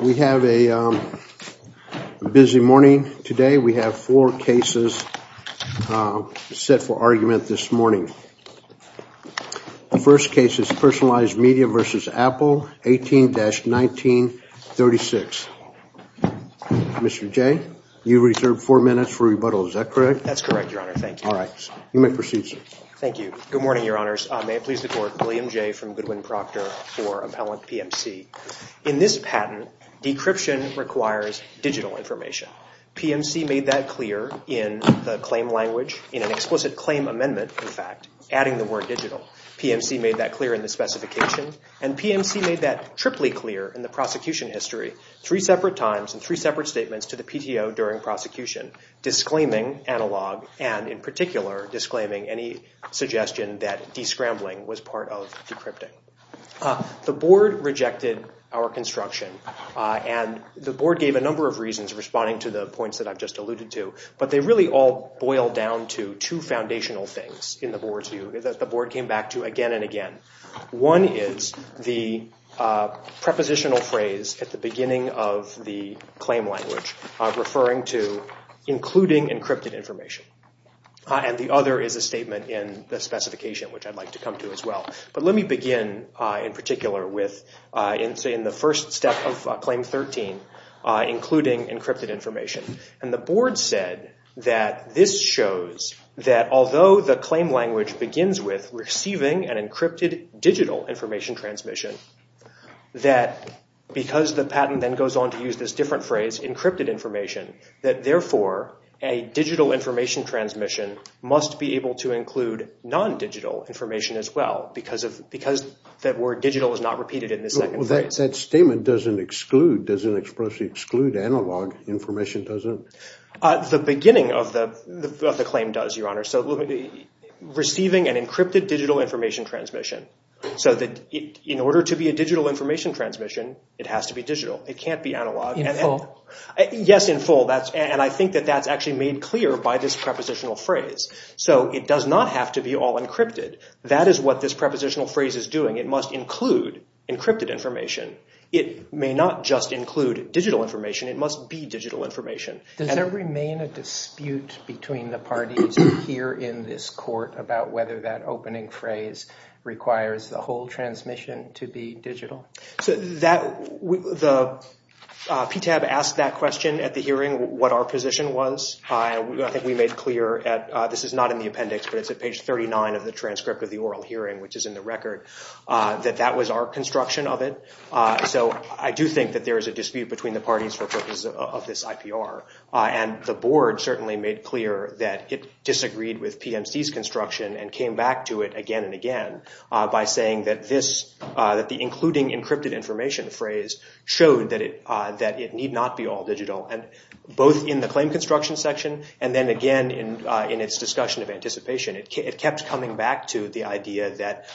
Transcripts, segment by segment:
We have a busy morning today. We have four cases set for argument this morning. The first case is Personalized Media v. Apple, 18-1936. Mr. Jay, you reserve four minutes for rebuttal. Is that correct? That's correct, Your Honor. Thank you. All right. You may proceed, sir. Thank you. Good morning, Your Honors. May it please the Court. William Jay from Goodwin Proctor for Appellant PMC. In this patent, decryption requires digital information. PMC made that clear in the claim language, in an explicit claim amendment, in fact, adding the word digital. PMC made that clear in the specification, and PMC made that triply clear in the prosecution history, three separate times and three separate statements to the PTO during prosecution, disclaiming analog and, in particular, disclaiming any suggestion that descrambling was part of decrypting. The Board rejected our construction, and the Board gave a number of reasons responding to the points that I've just alluded to, but they really all boil down to two foundational things in the Board's view that the Board came back to again and again. One is the prepositional phrase at the beginning of the claim language referring to including encrypted information, and the other is a statement in the specification, which I'd like to come to as well. But let me begin, in particular, with in the first step of Claim 13, including encrypted information. And the Board said that this shows that although the claim language begins with receiving an encrypted digital information transmission, that because the patent then goes on to use this different phrase, encrypted information, that therefore a digital information transmission must be able to include non-digital information as well because that word digital is not repeated in the second phrase. That statement doesn't exclude, doesn't expressly exclude analog information, does it? The beginning of the claim does, Your Honor, so receiving an encrypted digital information transmission, so that in order to be a digital information transmission, it has to be digital. It can't be analog. In full? Yes, in full. And I think that that's actually made clear by this prepositional phrase. So it does not have to be all encrypted. That is what this prepositional phrase is doing. It must include encrypted information. It may not just include digital information. It must be digital information. Does there remain a dispute between the parties here in this Court about whether that opening phrase requires the whole transmission to be digital? So the PTAB asked that question at the hearing, what our position was. I think we made clear, this is not in the appendix, but it's at page 39 of the transcript of the oral hearing, which is in the record, that that was our construction of it. So I do think that there is a dispute between the parties for purposes of this IPR. And the Board certainly made clear that it disagreed with PMC's construction and came back to it again and again by saying that the including encrypted information phrase showed that it need not be all digital, both in the claim construction section and then again in its discussion of anticipation. It kept coming back to the idea that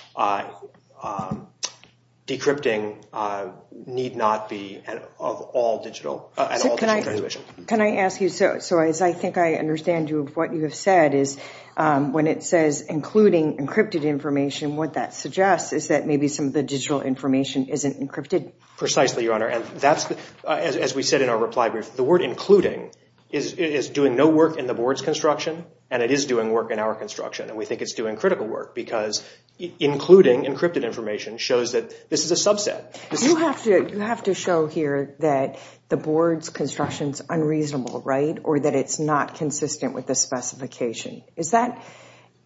decrypting need not be an all-digital transmission. Can I ask you, so as I think I understand what you have said, when it says including encrypted information, what that suggests is that maybe some of the digital information isn't encrypted. Precisely, Your Honor. As we said in our reply brief, the word including is doing no work in the Board's construction and it is doing work in our construction. We think it's doing critical work because including encrypted information shows that this is a subset. You have to show here that the Board's construction is unreasonable, right? Or that it's not consistent with the specification. Is that?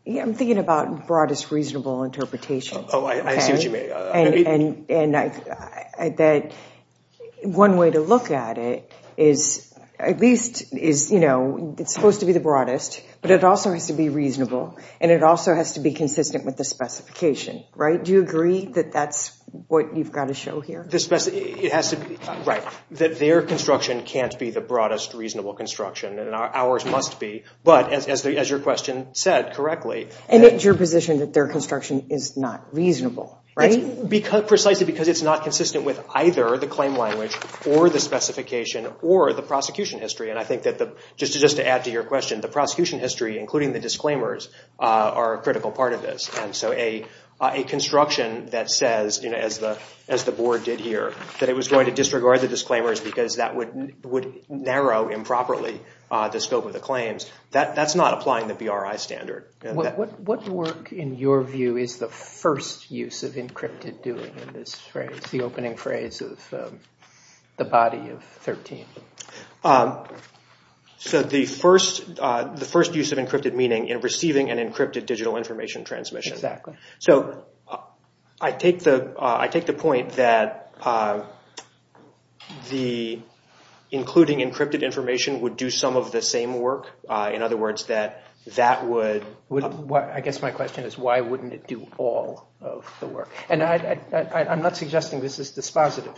I'm thinking about broadest reasonable interpretation. Oh, I see what you mean. And that one way to look at it is, at least, it's supposed to be the broadest, but it also has to be reasonable and it also has to be consistent with the specification, right? Do you agree that that's what you've got to show here? It has to be, right, that their construction can't be the broadest reasonable construction and ours must be, but as your question said correctly. And it's your position that their construction is not reasonable, right? Precisely because it's not consistent with either the claim language or the specification or the prosecution history and I think that, just to add to your question, the prosecution history, including the disclaimers, are a critical part of this. And so a construction that says, as the Board did here, that it was going to disregard the disclaimers because that would narrow improperly the scope of the claims, that's not applying the BRI standard. What work, in your view, is the first use of encrypted doing in this phrase, the opening phrase of the body of 13? So the first use of encrypted meaning in receiving an encrypted digital information transmission. Exactly. So I take the point that including encrypted information would do some of the same work, in other words, that that would... I guess my question is, why wouldn't it do all of the work? And I'm not suggesting this is dispositive,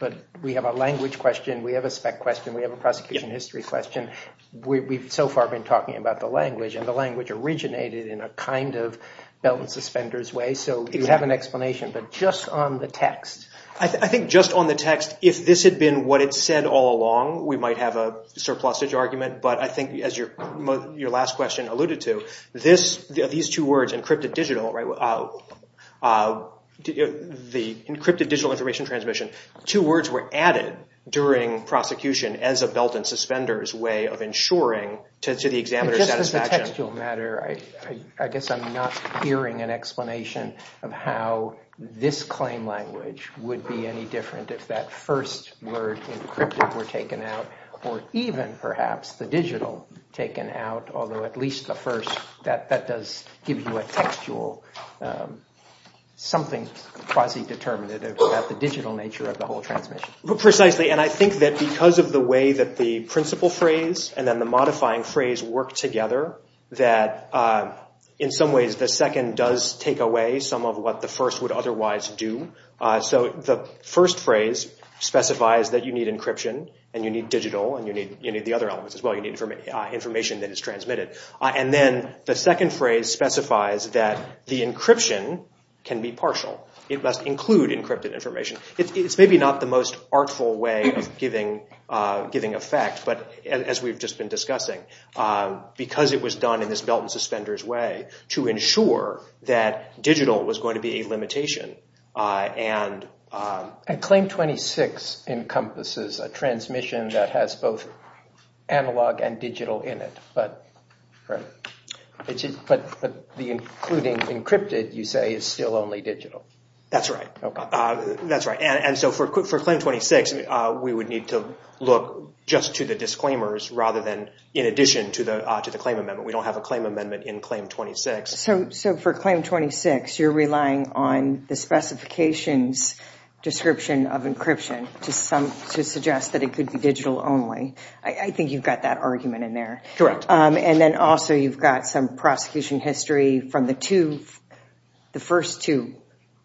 but we have a language question, we have a spec question, we have a prosecution history question, we've so far been talking about the language, and the language originated in a kind of belt and suspenders way. So you have an explanation, but just on the text. I think just on the text, if this had been what it said all along, we might have a surplusage argument, but I think as your last question alluded to, these two words, encrypted digital, the encrypted digital information transmission, two words were added during prosecution as a belt and suspenders way of ensuring to the examiner's satisfaction. And just as a textual matter, I guess I'm not hearing an explanation of how this claim language would be any different if that first word encrypted were taken out, or even perhaps the digital taken out, although at least the first, that does give you a textual, something quasi-determinative about the digital nature of the whole transmission. Precisely, and I think that because of the way that the principle phrase and then the modifying phrase work together, that in some ways the second does take away some of what the first would otherwise do. So the first phrase specifies that you need encryption, and you need digital, and you need the other elements as well, you need information that is transmitted. And then the second phrase specifies that the encryption can be partial, it must include encrypted information. It's maybe not the most artful way of giving effect, but as we've just been discussing, because it was done in this belt and suspenders way to ensure that digital was going to be a limitation. And Claim 26 encompasses a transmission that has both analog and digital in it, but the including encrypted, you say, is still only digital. That's right. That's right. And so for Claim 26, we would need to look just to the disclaimers rather than in addition to the claim amendment. We don't have a claim amendment in Claim 26. So for Claim 26, you're relying on the specifications description of encryption to suggest that it could be digital only. I think you've got that argument in there. Correct. And then also you've got some prosecution history from the two, the first two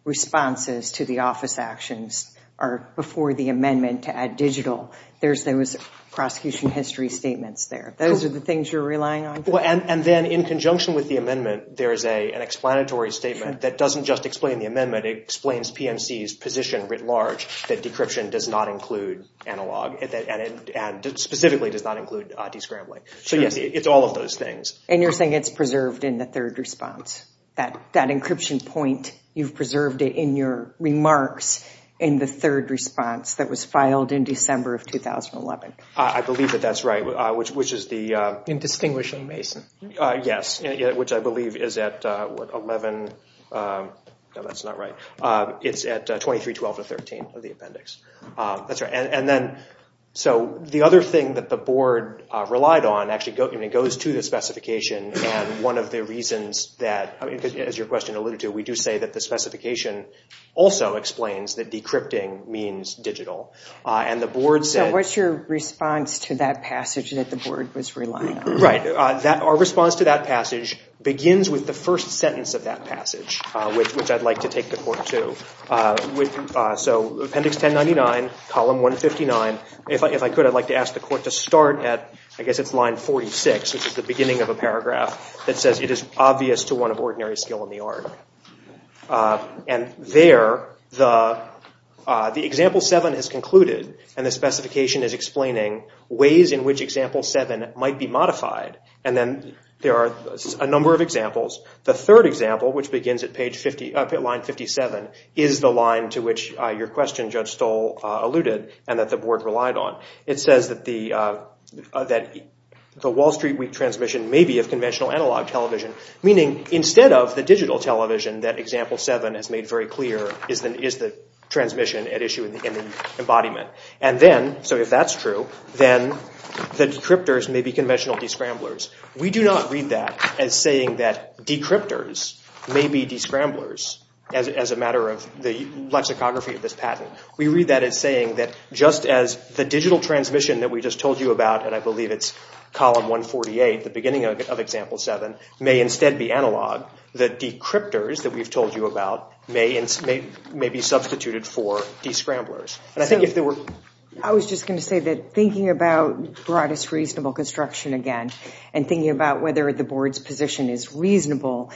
responses to the office actions are before the amendment to add digital, there was prosecution history statements there. Those are the things you're relying on? And then in conjunction with the amendment, there is an explanatory statement that doesn't just explain the amendment, it explains PMC's position writ large that decryption does not include analog and specifically does not include de-scrambling. So yes, it's all of those things. And you're saying it's preserved in the third response, that encryption point, you've preserved it in your remarks in the third response that was filed in December of 2011. I believe that that's right, which is the... In distinguishing Mason. Yes, which I believe is at 11, no that's not right, it's at 23-12-13 of the appendix. And then, so the other thing that the board relied on actually goes to the specification and one of the reasons that, as your question alluded to, we do say that the specification also explains that decrypting means digital. And the board said... So what's your response to that passage that the board was relying on? Right, our response to that passage begins with the first sentence of that passage, which I'd like to take the court to. So appendix 1099, column 159, if I could I'd like to ask the court to start at, I guess it's line 46, which is the beginning of a paragraph that says it is obvious to one of ordinary skill in the art. And there, the example 7 has concluded and the specification is explaining ways in which example 7 might be modified. And then there are a number of examples. The third example, which begins at line 57, is the line to which your question, Judge Stoll, alluded and that the board relied on. It says that the Wall Street Week transmission may be of conventional analog television, meaning instead of the digital television that example 7 has made very clear is the transmission at issue in the embodiment. And then, so if that's true, then the decryptors may be conventional descramblers. We do not read that as saying that decryptors may be descramblers as a matter of the lexicography of this patent. We read that as saying that just as the digital transmission that we just told you about, and I believe it's column 148, the beginning of example 7, may instead be analog, the decryptors that we've told you about may be substituted for descramblers. I was just going to say that thinking about broadest reasonable construction again and thinking about whether the board's position is reasonable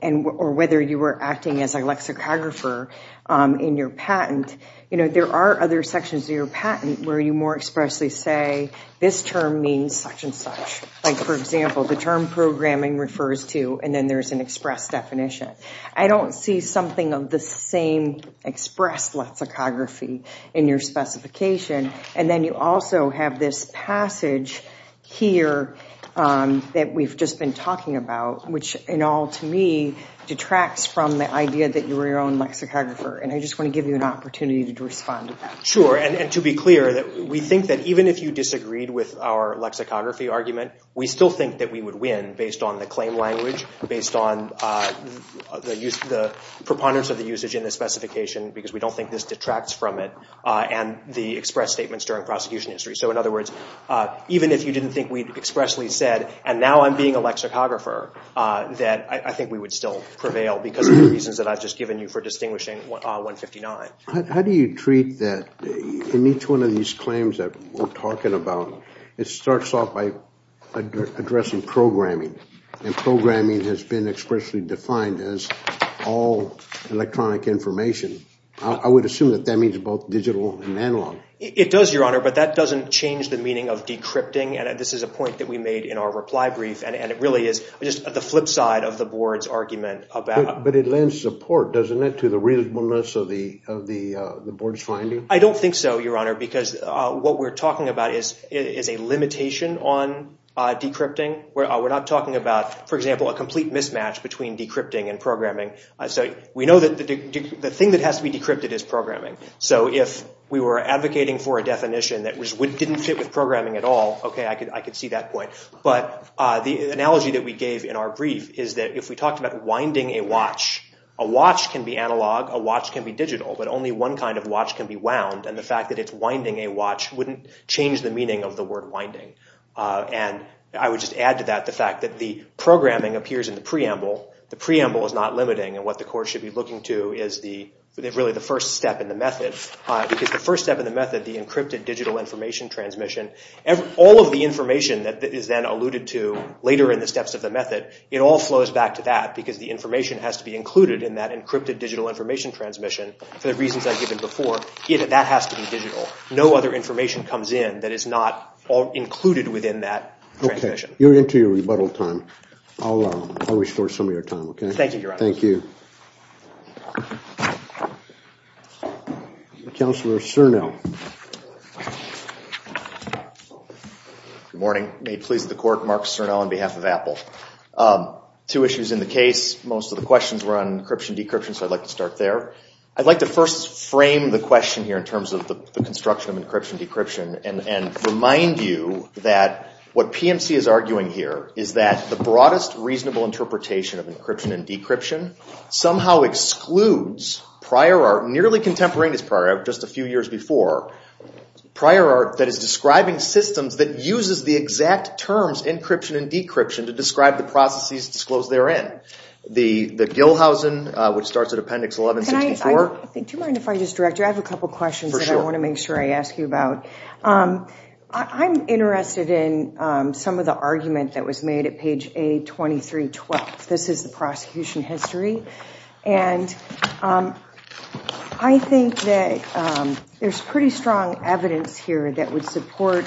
or whether you were acting as a lexicographer in your patent, you know, there are other sections of your patent where you more expressly say this term means such and such. Like, for example, the term programming refers to, and then there's an express definition. I don't see something of the same express lexicography in your specification. And then you also have this passage here that we've just been talking about, which in all to me detracts from the idea that you were your own lexicographer. And I just want to give you an opportunity to respond to that. Sure. And to be clear, we think that even if you disagreed with our lexicography argument, we still think that we would win based on the claim language, based on the preponderance of the usage in the specification, because we don't think this detracts from it, and the express statements during prosecution history. So in other words, even if you didn't think we'd expressly said, and now I'm being a lexicographer, that I think we would still prevail because of the reasons that I've just given you for distinguishing 159. How do you treat that in each one of these claims that we're talking about? It starts off by addressing programming, and programming has been expressly defined as all electronic information. I would assume that that means both digital and analog. It does, Your Honor, but that doesn't change the meaning of decrypting, and this is a point that we made in our reply brief, and it really is just the flip side of the board's argument about... But it lends support, doesn't it, to the reasonableness of the board's finding? I don't think so, Your Honor, because what we're talking about is a limitation on decrypting. We're not talking about, for example, a complete mismatch between decrypting and programming. So we know that the thing that has to be decrypted is programming. So if we were advocating for a definition that didn't fit with programming at all, okay, I could see that point. But the analogy that we gave in our brief is that if we talked about winding a watch, a watch can be analog, a watch can be digital, but only one kind of watch can be wound, and the fact that it's winding a watch wouldn't change the meaning of the word winding. And I would just add to that the fact that the programming appears in the preamble. The preamble is not limiting, and what the court should be looking to is really the first step in the method. Because the first step in the method, the encrypted digital information transmission, all of the information that is then alluded to later in the steps of the method, it all goes back to that, because the information has to be included in that encrypted digital information transmission. For the reasons I've given before, that has to be digital. No other information comes in that is not included within that transmission. Okay. You're into your rebuttal time. I'll restore some of your time, okay? Thank you, Your Honor. Thank you. Counselor Cernel. Good morning. May it please the court, Mark Cernel on behalf of Apple. Two issues in the case. Most of the questions were on encryption-decryption, so I'd like to start there. I'd like to first frame the question here in terms of the construction of encryption-decryption and remind you that what PMC is arguing here is that the broadest reasonable interpretation of encryption and decryption somehow excludes prior art, nearly contemporaneous prior art, just a few years before. Prior art that is describing systems that uses the exact terms encryption and decryption to describe the processes disclosed therein. The Gilhausen, which starts at Appendix 1164. Do you mind if I just direct you? I have a couple questions that I want to make sure I ask you about. I'm interested in some of the argument that was made at page A2312. This is the prosecution history, and I think that there's pretty strong evidence here that would support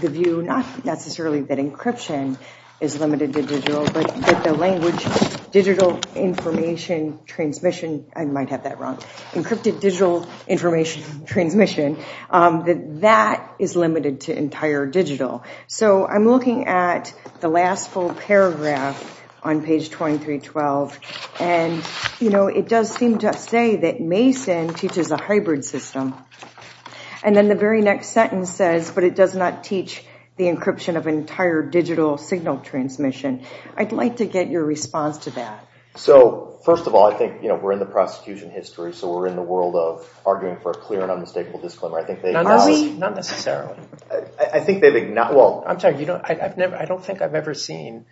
the view, not necessarily that encryption is limited to digital, but that the language, digital information transmission, I might have that wrong, encrypted digital information transmission, that that is limited to entire digital. So I'm looking at the last full paragraph on page 2312, and it does seem to say that it does not teach the encryption of entire digital signal transmission. I'd like to get your response to that. So, first of all, I think we're in the prosecution history, so we're in the world of arguing for a clear and unmistakable disclaimer. Are we? Not necessarily. I think they've... Well, I'm sorry, I don't think I've ever seen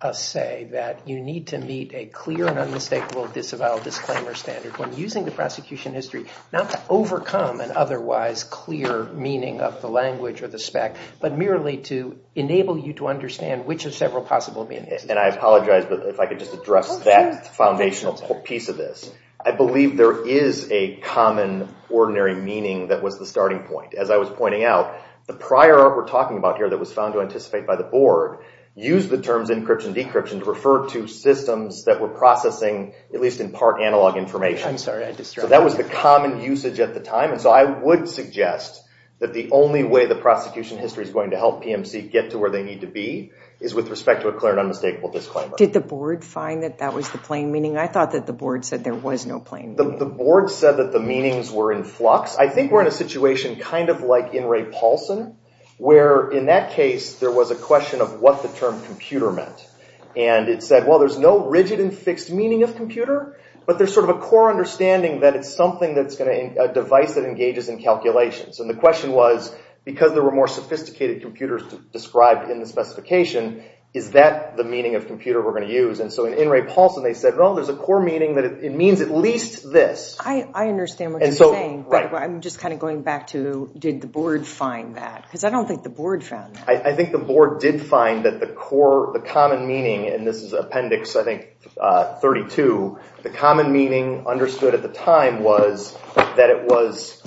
a say that you need to meet a clear and unmistakable disavowal disclaimer standard when using the prosecution history not to overcome an otherwise clear meaning of the language or the spec, but merely to enable you to understand which of several possible meanings. And I apologize, but if I could just address that foundational piece of this. I believe there is a common ordinary meaning that was the starting point. As I was pointing out, the prior art we're talking about here that was found to anticipate by the board used the terms encryption, decryption to refer to systems that were processing, at least in part, analog information. So that was the common usage at the time, and so I would suggest that the only way the prosecution history is going to help PMC get to where they need to be is with respect to a clear and unmistakable disclaimer. Did the board find that that was the plain meaning? I thought that the board said there was no plain meaning. The board said that the meanings were in flux. I think we're in a situation kind of like in Ray Paulson, where in that case there was a question of what the term computer meant. And it said, well, there's no rigid and fixed meaning of computer, but there's sort of a core understanding that it's a device that engages in calculations. And the question was, because there were more sophisticated computers described in the specification, is that the meaning of computer we're going to use? And so in Ray Paulson they said, no, there's a core meaning that it means at least this. I understand what you're saying, but I'm just kind of going back to did the board find that? Because I don't think the board found that. I think the board did find that the common meaning, and this is Appendix 32, the common meaning understood at the time was that it was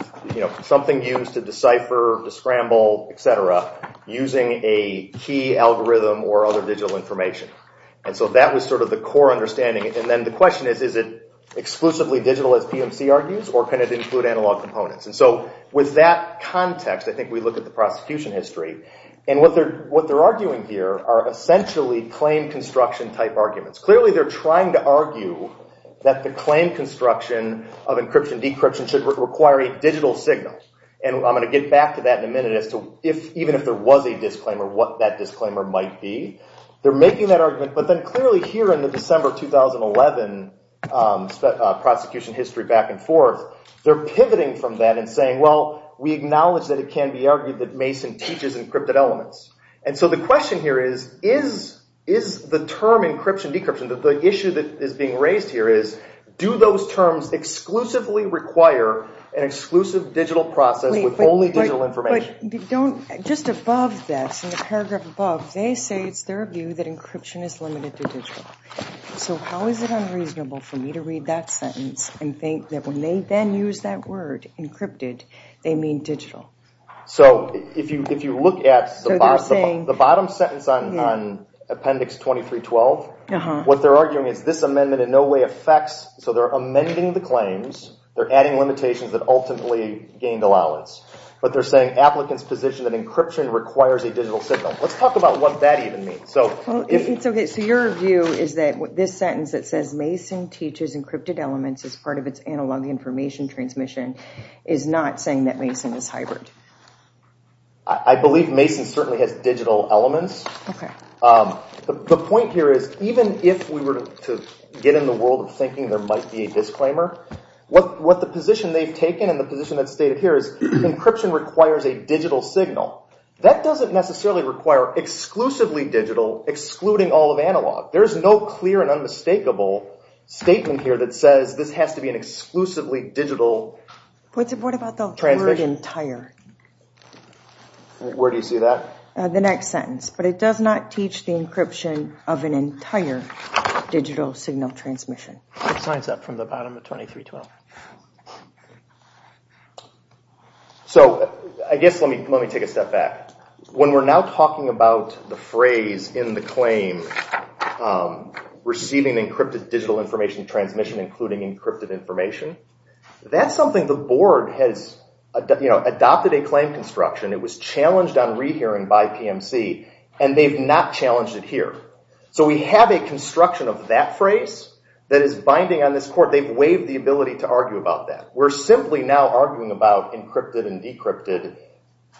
something used to decipher, to scramble, etc. using a key algorithm or other digital information. And so that was sort of the core understanding. And then the question is, is it exclusively digital, as PMC argues, or can it include analog components? And so with that context, I think we look at the prosecution history. And what they're arguing here are essentially claim construction type arguments. Clearly they're trying to argue that the claim construction of encryption and decryption should require a digital signal. And I'm going to get back to that in a minute as to even if there was a disclaimer, what that disclaimer might be. They're making that argument, but then clearly here in the December 2011 prosecution history back and forth, they're pivoting from that and saying, well, we acknowledge that it can be argued that Mason teaches encrypted elements. And so the question here is, is the term encryption decryption, the issue that is being raised here is do those terms exclusively require an exclusive digital process with only digital information? Just above that, in the paragraph above, they say it's their view that encryption is limited to digital. So how is it unreasonable for me to read that sentence and think that when they then use that word, encrypted, they mean digital? So if you look at the bottom sentence on Appendix 2312, what they're arguing is this amendment in no way affects, so they're amending the claims, they're adding limitations that ultimately gained allowance. But they're saying applicants position that encryption requires a digital signal. Let's talk about what that even means. So your view is that this sentence that says Mason teaches encrypted elements as part of its analog information transmission is not saying that Mason is hybrid. I believe Mason certainly has digital elements. The point here is, even if we were to get in the world of thinking there might be a disclaimer, what the position they've taken and the position that's stated here is encryption requires a digital signal. That doesn't necessarily require exclusively digital, excluding all of analog. There's no clear and unmistakable statement here that says this has to be an exclusively digital transmission. What about the word entire? Where do you see that? The next sentence, but it does not teach the encryption of an entire digital signal transmission. Signs up from the bottom of 2312. So I guess let me take a step back. When we're now talking about the phrase in the claim, receiving encrypted digital information transmission including encrypted information, that's something the board has adopted a claim construction. It was challenged on rehearing by PMC, and they've not challenged it here. So we have a construction of that phrase that is binding on this court. They've waived the ability to argue about that. We're simply now arguing about encrypted and decrypted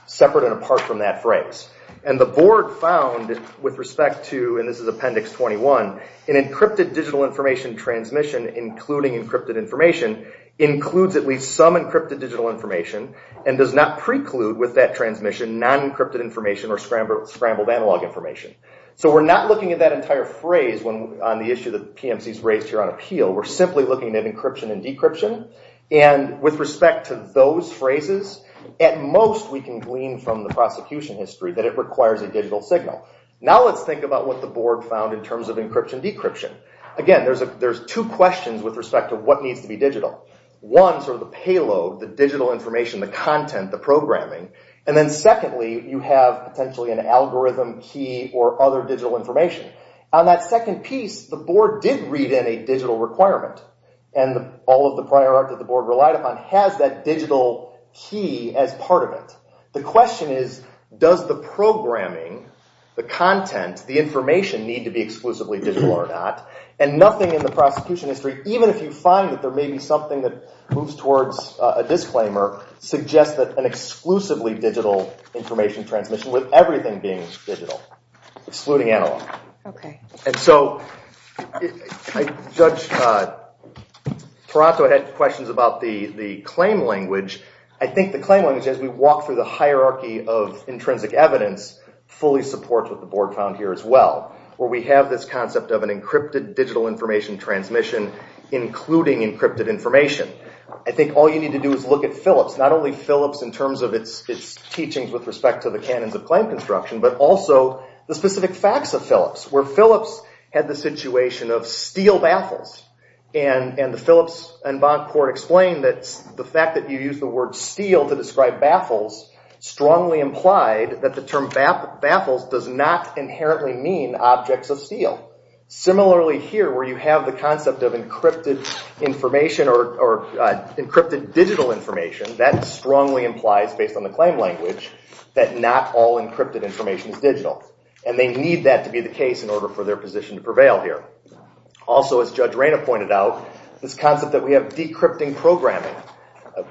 separate and apart from that phrase. The board found with respect to, and this is Appendix 21, an encrypted digital information transmission including encrypted information includes at least some encrypted digital information and does not preclude with that transmission non-encrypted information or scrambled analog information. So we're not looking at that entire phrase on the issue that PMC's raised here on appeal. We're simply looking at encryption and decryption, and with respect to those phrases, at most we can glean from the prosecution history that it requires a digital signal. Now let's think about what the board found in terms of encryption decryption. Again, there's two questions with respect to what needs to be digital. One, sort of the payload, the digital information, the content, the programming. And then secondly, you have potentially an algorithm key or other digital information. On that second piece, the board did read in a digital requirement, and all of the prior art that the board relied upon has that digital key as part of it. The question is, does the programming, the content, the information need to be exclusively digital or not? And nothing in the prosecution history, even if you find that there may be something that moves towards a disclaimer, suggests that an exclusively digital information transmission with everything being digital, excluding analog. Okay. And so, Judge Taranto had questions about the claim language. I think the claim language as we walk through this case is really the hierarchy of intrinsic evidence fully supports what the board found here as well. Where we have this concept of an encrypted digital information transmission including encrypted information. I think all you need to do is look at Phillips. Not only Phillips in terms of its teachings with respect to the canons of claim construction, but also the specific facts of Phillips. Where Phillips had the situation of steel baffles. And the Phillips and Bancourt explain that the fact that you use the word steel to describe baffles strongly implied that the term baffles does not inherently mean objects of steel. Similarly here, where you have the concept of encrypted information or encrypted digital information, that strongly implies, based on the claim language, that not all encrypted information is digital. And they need that to be the case in order for their position to prevail here. Also, as Judge Reyna pointed out, this concept that we have decrypting programming.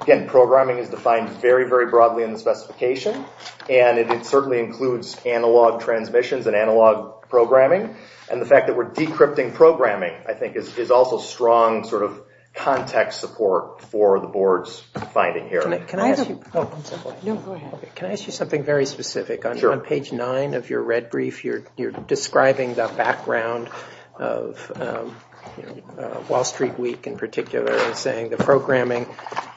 Again, programming is defined very, very broadly in the specification. And it certainly includes analog transmissions and analog programming. And the fact that we're decrypting programming, I think, is also strong context support for the board's finding here. Can I ask you something very specific? On page 9 of your red brief, you're describing the background of Wall Street Week in particular and saying the programming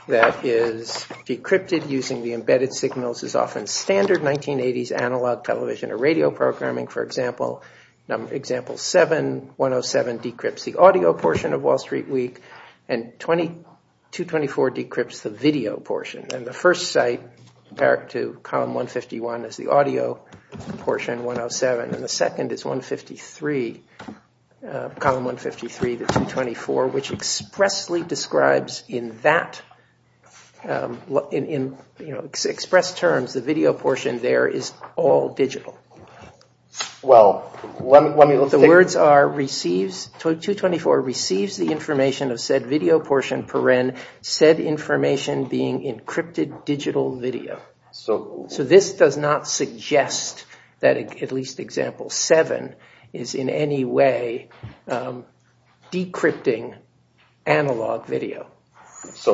that is decrypted using the embedded signals is often standard 1980s analog television or radio programming, for example. Example 7, 107, decrypts the audio portion of Wall Street Week and 224 decrypts the video portion. And the first site to column 151 is the audio portion, 107. And the second is column 153, the 224, which expressly describes in expressed terms the video portion there is all digital. The words are, 224 receives the information of said video portion, said information being encrypted digital video. So this does not suggest that at least example 7 is in any way decrypting analog video. So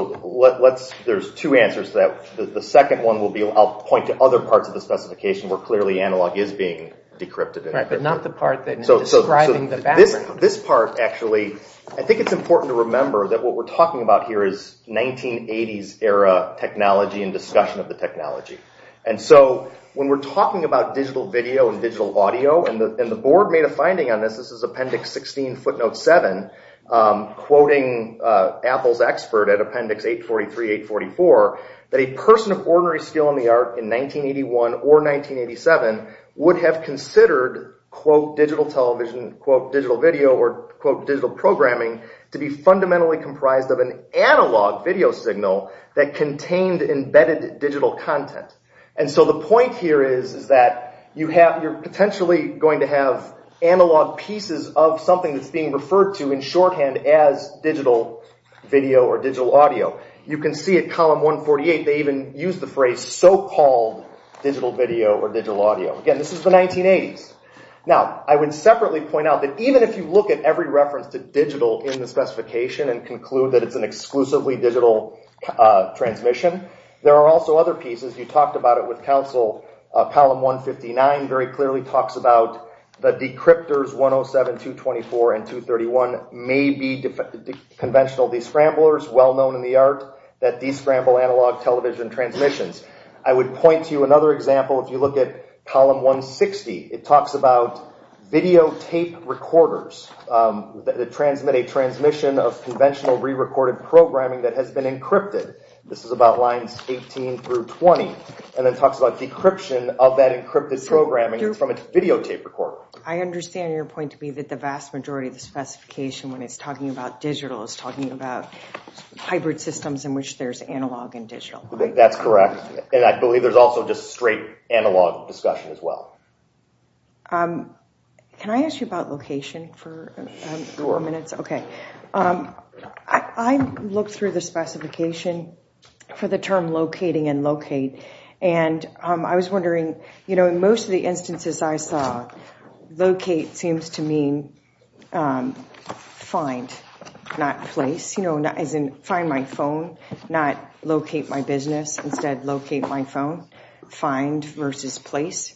there's two answers to that. The second one, I'll point to other parts of the specification where clearly analog is being decrypted. But not the part describing the background. This part, actually, I think it's important to remember that what we're talking about here is 1980s era technology and discussion of the technology. And so when we're talking about digital video and digital audio, and the board made a finding on this, this is appendix 16 footnote 7, quoting Apple's expert at appendix 843, 844, that a person of ordinary skill in the art in 1981 or 1987 would have considered, quote, digital television, quote, digital video, or quote, digital programming to be fundamentally comprised of an analog video signal that contained embedded digital content. And so the point here is that you have, you're potentially going to have analog pieces of something that's being referred to in shorthand as digital video or digital audio. You can see at column 148 they even use the phrase so-called digital video or digital audio. Again, this is the 1980s. Now, I would separately point out that even if you look at every reference to digital in the specification and conclude that it's an exclusively digital transmission, there are also other pieces. You talked about it with Council. Column 159 very clearly talks about the decryptors 107, 224, and 231 may be conventional descramblers well known in the art that descramble analog television transmissions. I would point to another example if you look at column 160. It talks about videotape recorders that transmit a transmission of conventional re-recorded programming that has been encrypted. This is about lines 18 through 20. And it talks about decryption of that encrypted programming from a videotape recorder. I understand your point to be that the vast majority of the specification when it's talking about digital is talking about hybrid systems in which there's analog and digital. That's correct. And I believe there's also just straight analog discussion as well. Can I ask you about location for a few more minutes? Sure. I looked through the specification for the term locating and locate and I was wondering in most of the instances I saw locate seems to mean find, not place. As in find my phone, not locate my business. Instead locate my phone. Find versus place.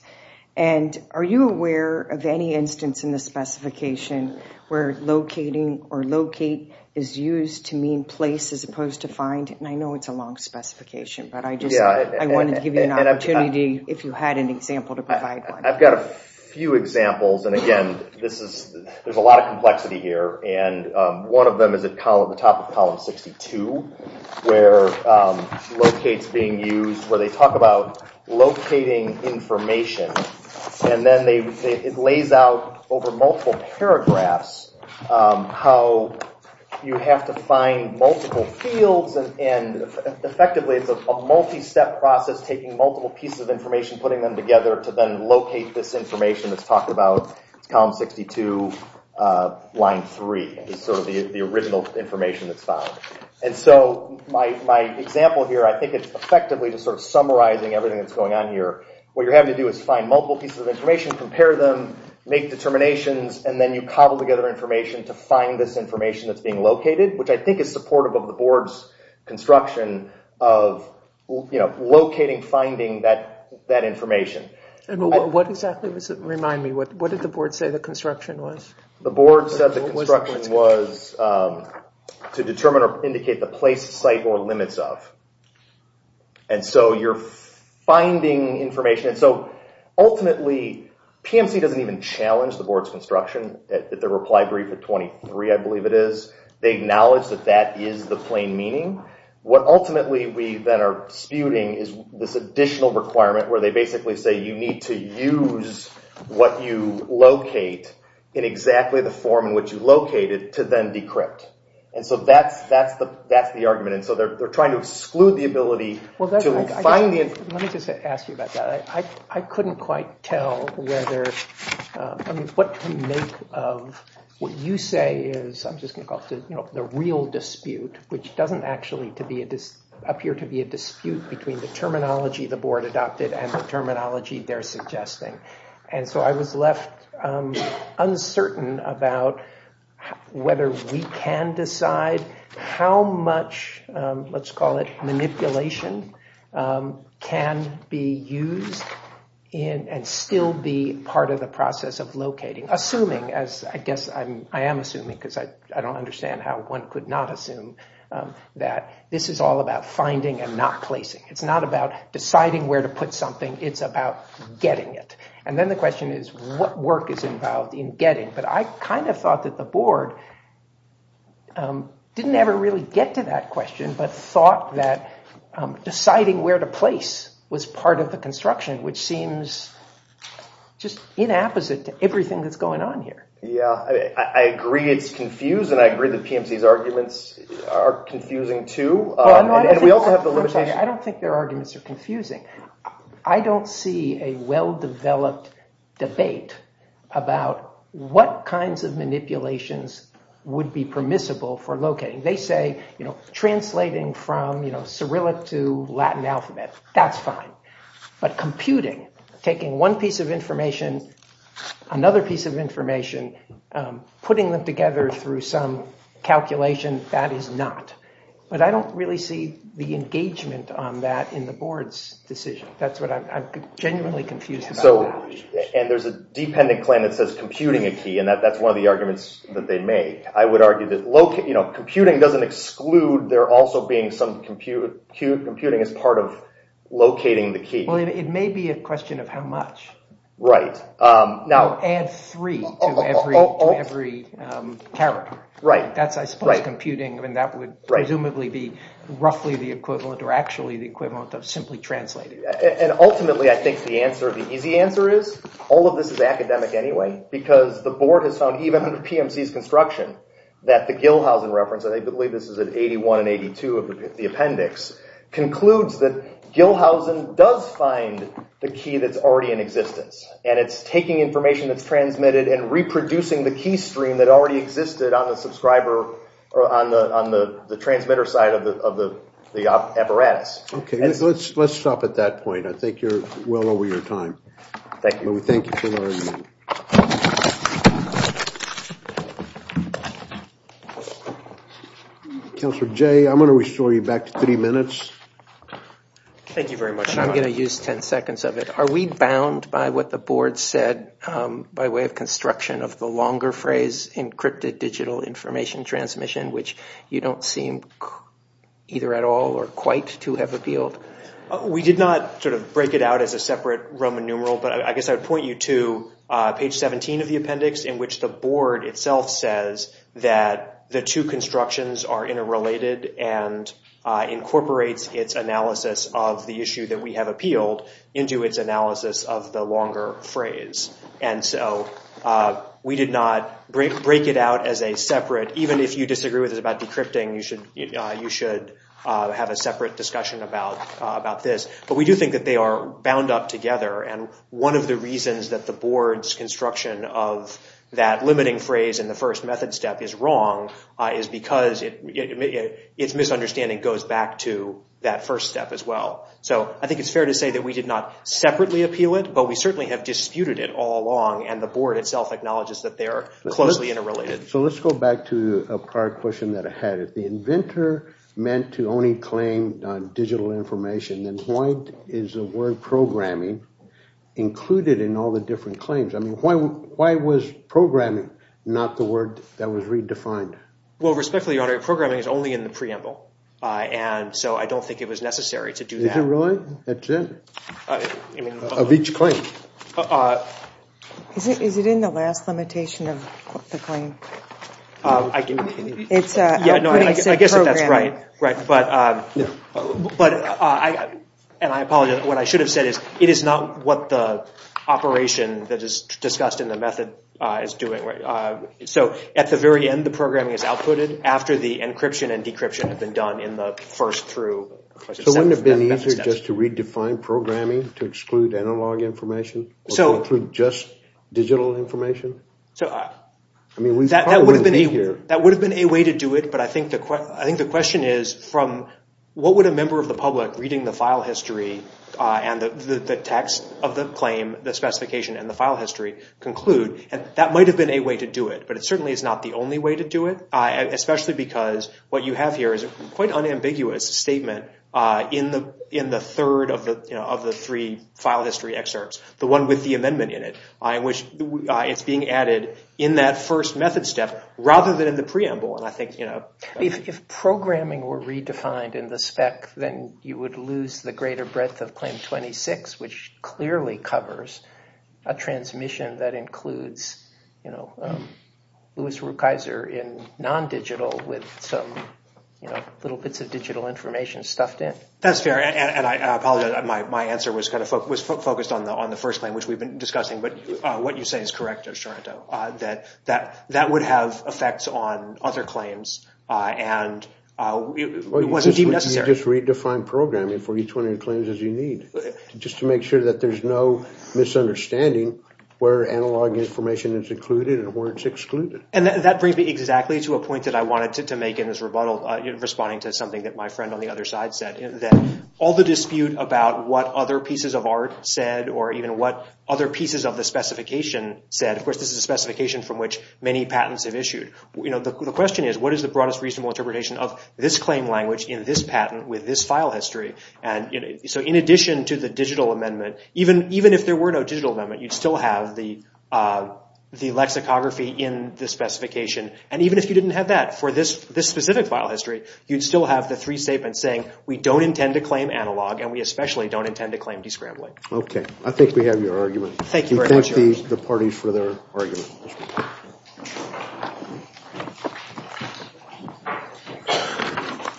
Are you aware of any instance in the specification where locating or locate is used to mean place as opposed to find? I know it's a long specification but I wanted to give you an opportunity if you had an example to provide one. I've got a few examples. There's a lot of complexity here and one of them is at the top of column 62 where locate is being used where they talk about locating information and then it lays out over multiple paragraphs how you have to find multiple fields and effectively it's a multi-step process taking multiple pieces of information, putting them together to then locate this information that's talked about column 62, line 3 is sort of the original information that's found. My example here, I think it's effectively just sort of summarizing everything that's going on here. What you're having to do is find multiple pieces of information, compare them make determinations and then you cobble together information to find this information that's being located, which I think is supportive of the board's construction of locating, finding that information. What exactly was it? Remind me. What did the board say the construction was? The board said the construction was to determine or indicate the place, site, or limits of. And so you're finding information and so ultimately PMC doesn't even challenge the board's construction. Their reply brief at 23 I believe it is. They acknowledge that that is the plain meaning. What ultimately we then are disputing is this additional requirement where they basically say you need to use what you locate in exactly the form in which you locate it to then decrypt. And so that's the argument. And so they're trying to exclude the ability to find the information. Let me just ask you about that. I couldn't quite tell whether what you make of what you say is the real dispute, which doesn't actually appear to be a dispute between the terminology the board adopted and the terminology they're suggesting. And so I was left uncertain about whether we can decide how much let's call it manipulation can be used and still be part of the process of locating. Assuming as I guess I am assuming because I don't understand how one could not assume that this is all about finding and not placing. It's not about deciding where to put something. It's about getting it. And then the question is what work is involved in getting. But I kind of thought that the board didn't ever really get to that question but thought that deciding where to place was part of the construction, which seems just inapposite to everything that's going on here. I agree it's confused and I agree that PMC's arguments are confusing too. I don't think their arguments are confusing. I don't see a well-developed debate about what kinds of manipulations would be permissible for locating. They say translating from Cyrillic to Latin alphabet, that's fine. But computing, taking one piece of information another piece of information putting them together through some calculation that is not. But I don't really see the engagement on that in the board's decision. That's what I'm genuinely confused about. And there's a dependent claim that says computing a key and that's one of the arguments that they make. I would argue that computing doesn't exclude there also being some computing as part of locating the key. It may be a question of how much. Add three to every character. I suppose computing would presumably be roughly the equivalent or actually the equivalent of simply translating. Ultimately I think the easy answer is all of this is academic anyway because the board has found even under PMC's construction that the Gilhausen reference, I believe this is in 81 and 82 of the appendix concludes that Gilhausen does find the key that's already in existence. And it's taking information that's transmitted and reproducing the key stream that already existed on the subscriber or on the transmitter side of the apparatus. Let's stop at that point. I think you're well over your time. Thank you for the argument. Councillor Jay, I'm going to restore you back to three minutes. Thank you very much. I'm going to use ten seconds of it. Are we bound by what the board said by way of construction of the longer phrase encrypted digital information transmission, which you don't seem either at all or quite to have appealed? We did not sort of break it out as a separate Roman numeral, but I guess I would point you to page 17 of the appendix in which the board itself says that the two constructions are interrelated and incorporates its analysis of the issue that we have appealed into its analysis of the longer phrase. And so we did not break it out as a separate, even if you disagree with us about decrypting, you should have a separate discussion about this. But we do think that they are bound up together. And one of the reasons that the board's first method step is wrong is because its misunderstanding goes back to that first step as well. So I think it's fair to say that we did not separately appeal it, but we certainly have disputed it all along and the board itself acknowledges that they are closely interrelated. So let's go back to a prior question that I had. If the inventor meant to only claim digital information, then why is the word programming included in all the different claims? I mean, why was programming not the word that was redefined? Well, respectfully, Your Honor, programming is only in the preamble. And so I don't think it was necessary to do that. Is it really? Of each claim? Is it in the last limitation of the claim? I guess that's right. And I apologize. What I should have said is it is not what the operation that is discussed in the method is doing. So at the very end, the programming is outputted after the encryption and decryption have been done in the first through question step. So wouldn't it have been easier just to redefine programming to exclude analog information or to include just digital information? That would have been a way to do it, but I think the question is from what would a member of the text of the claim, the specification, and the file history conclude? And that might have been a way to do it, but it certainly is not the only way to do it, especially because what you have here is a quite unambiguous statement in the third of the three file history excerpts, the one with the amendment in it, in which it's being added in that first method step rather than in the preamble. If programming were redefined in the spec, then you would lose the greater breadth of Claim 26, which clearly covers a transmission that includes Louis Rukeyser in non-digital with some little bits of digital information stuffed in. That's fair, and I apologize. My answer was focused on the first claim, which we've been discussing, but what you say is correct, O'Sharonta, that that would have effects on other claims and it wasn't even necessary. You just redefined programming for each one of your claims as you need, just to make sure that there's no misunderstanding where analog information is included and where it's excluded. And that brings me exactly to a point that I wanted to make in this rebuttal, responding to something that my friend on the other side said, that all the dispute about what other pieces of art said or even what other pieces of the specification said, of course, this is a specification from which many people have used this claim language in this patent with this file history. So in addition to the digital amendment, even if there were no digital amendment, you'd still have the lexicography in the specification. And even if you didn't have that for this specific file history, you'd still have the three statements saying we don't intend to claim analog and we especially don't intend to claim descrambling. Okay. I think we have your argument. Thank you very much.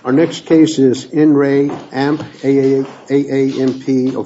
Our next case is In Re Amp A-A-A-A-A-A-A-A-A-A-M-P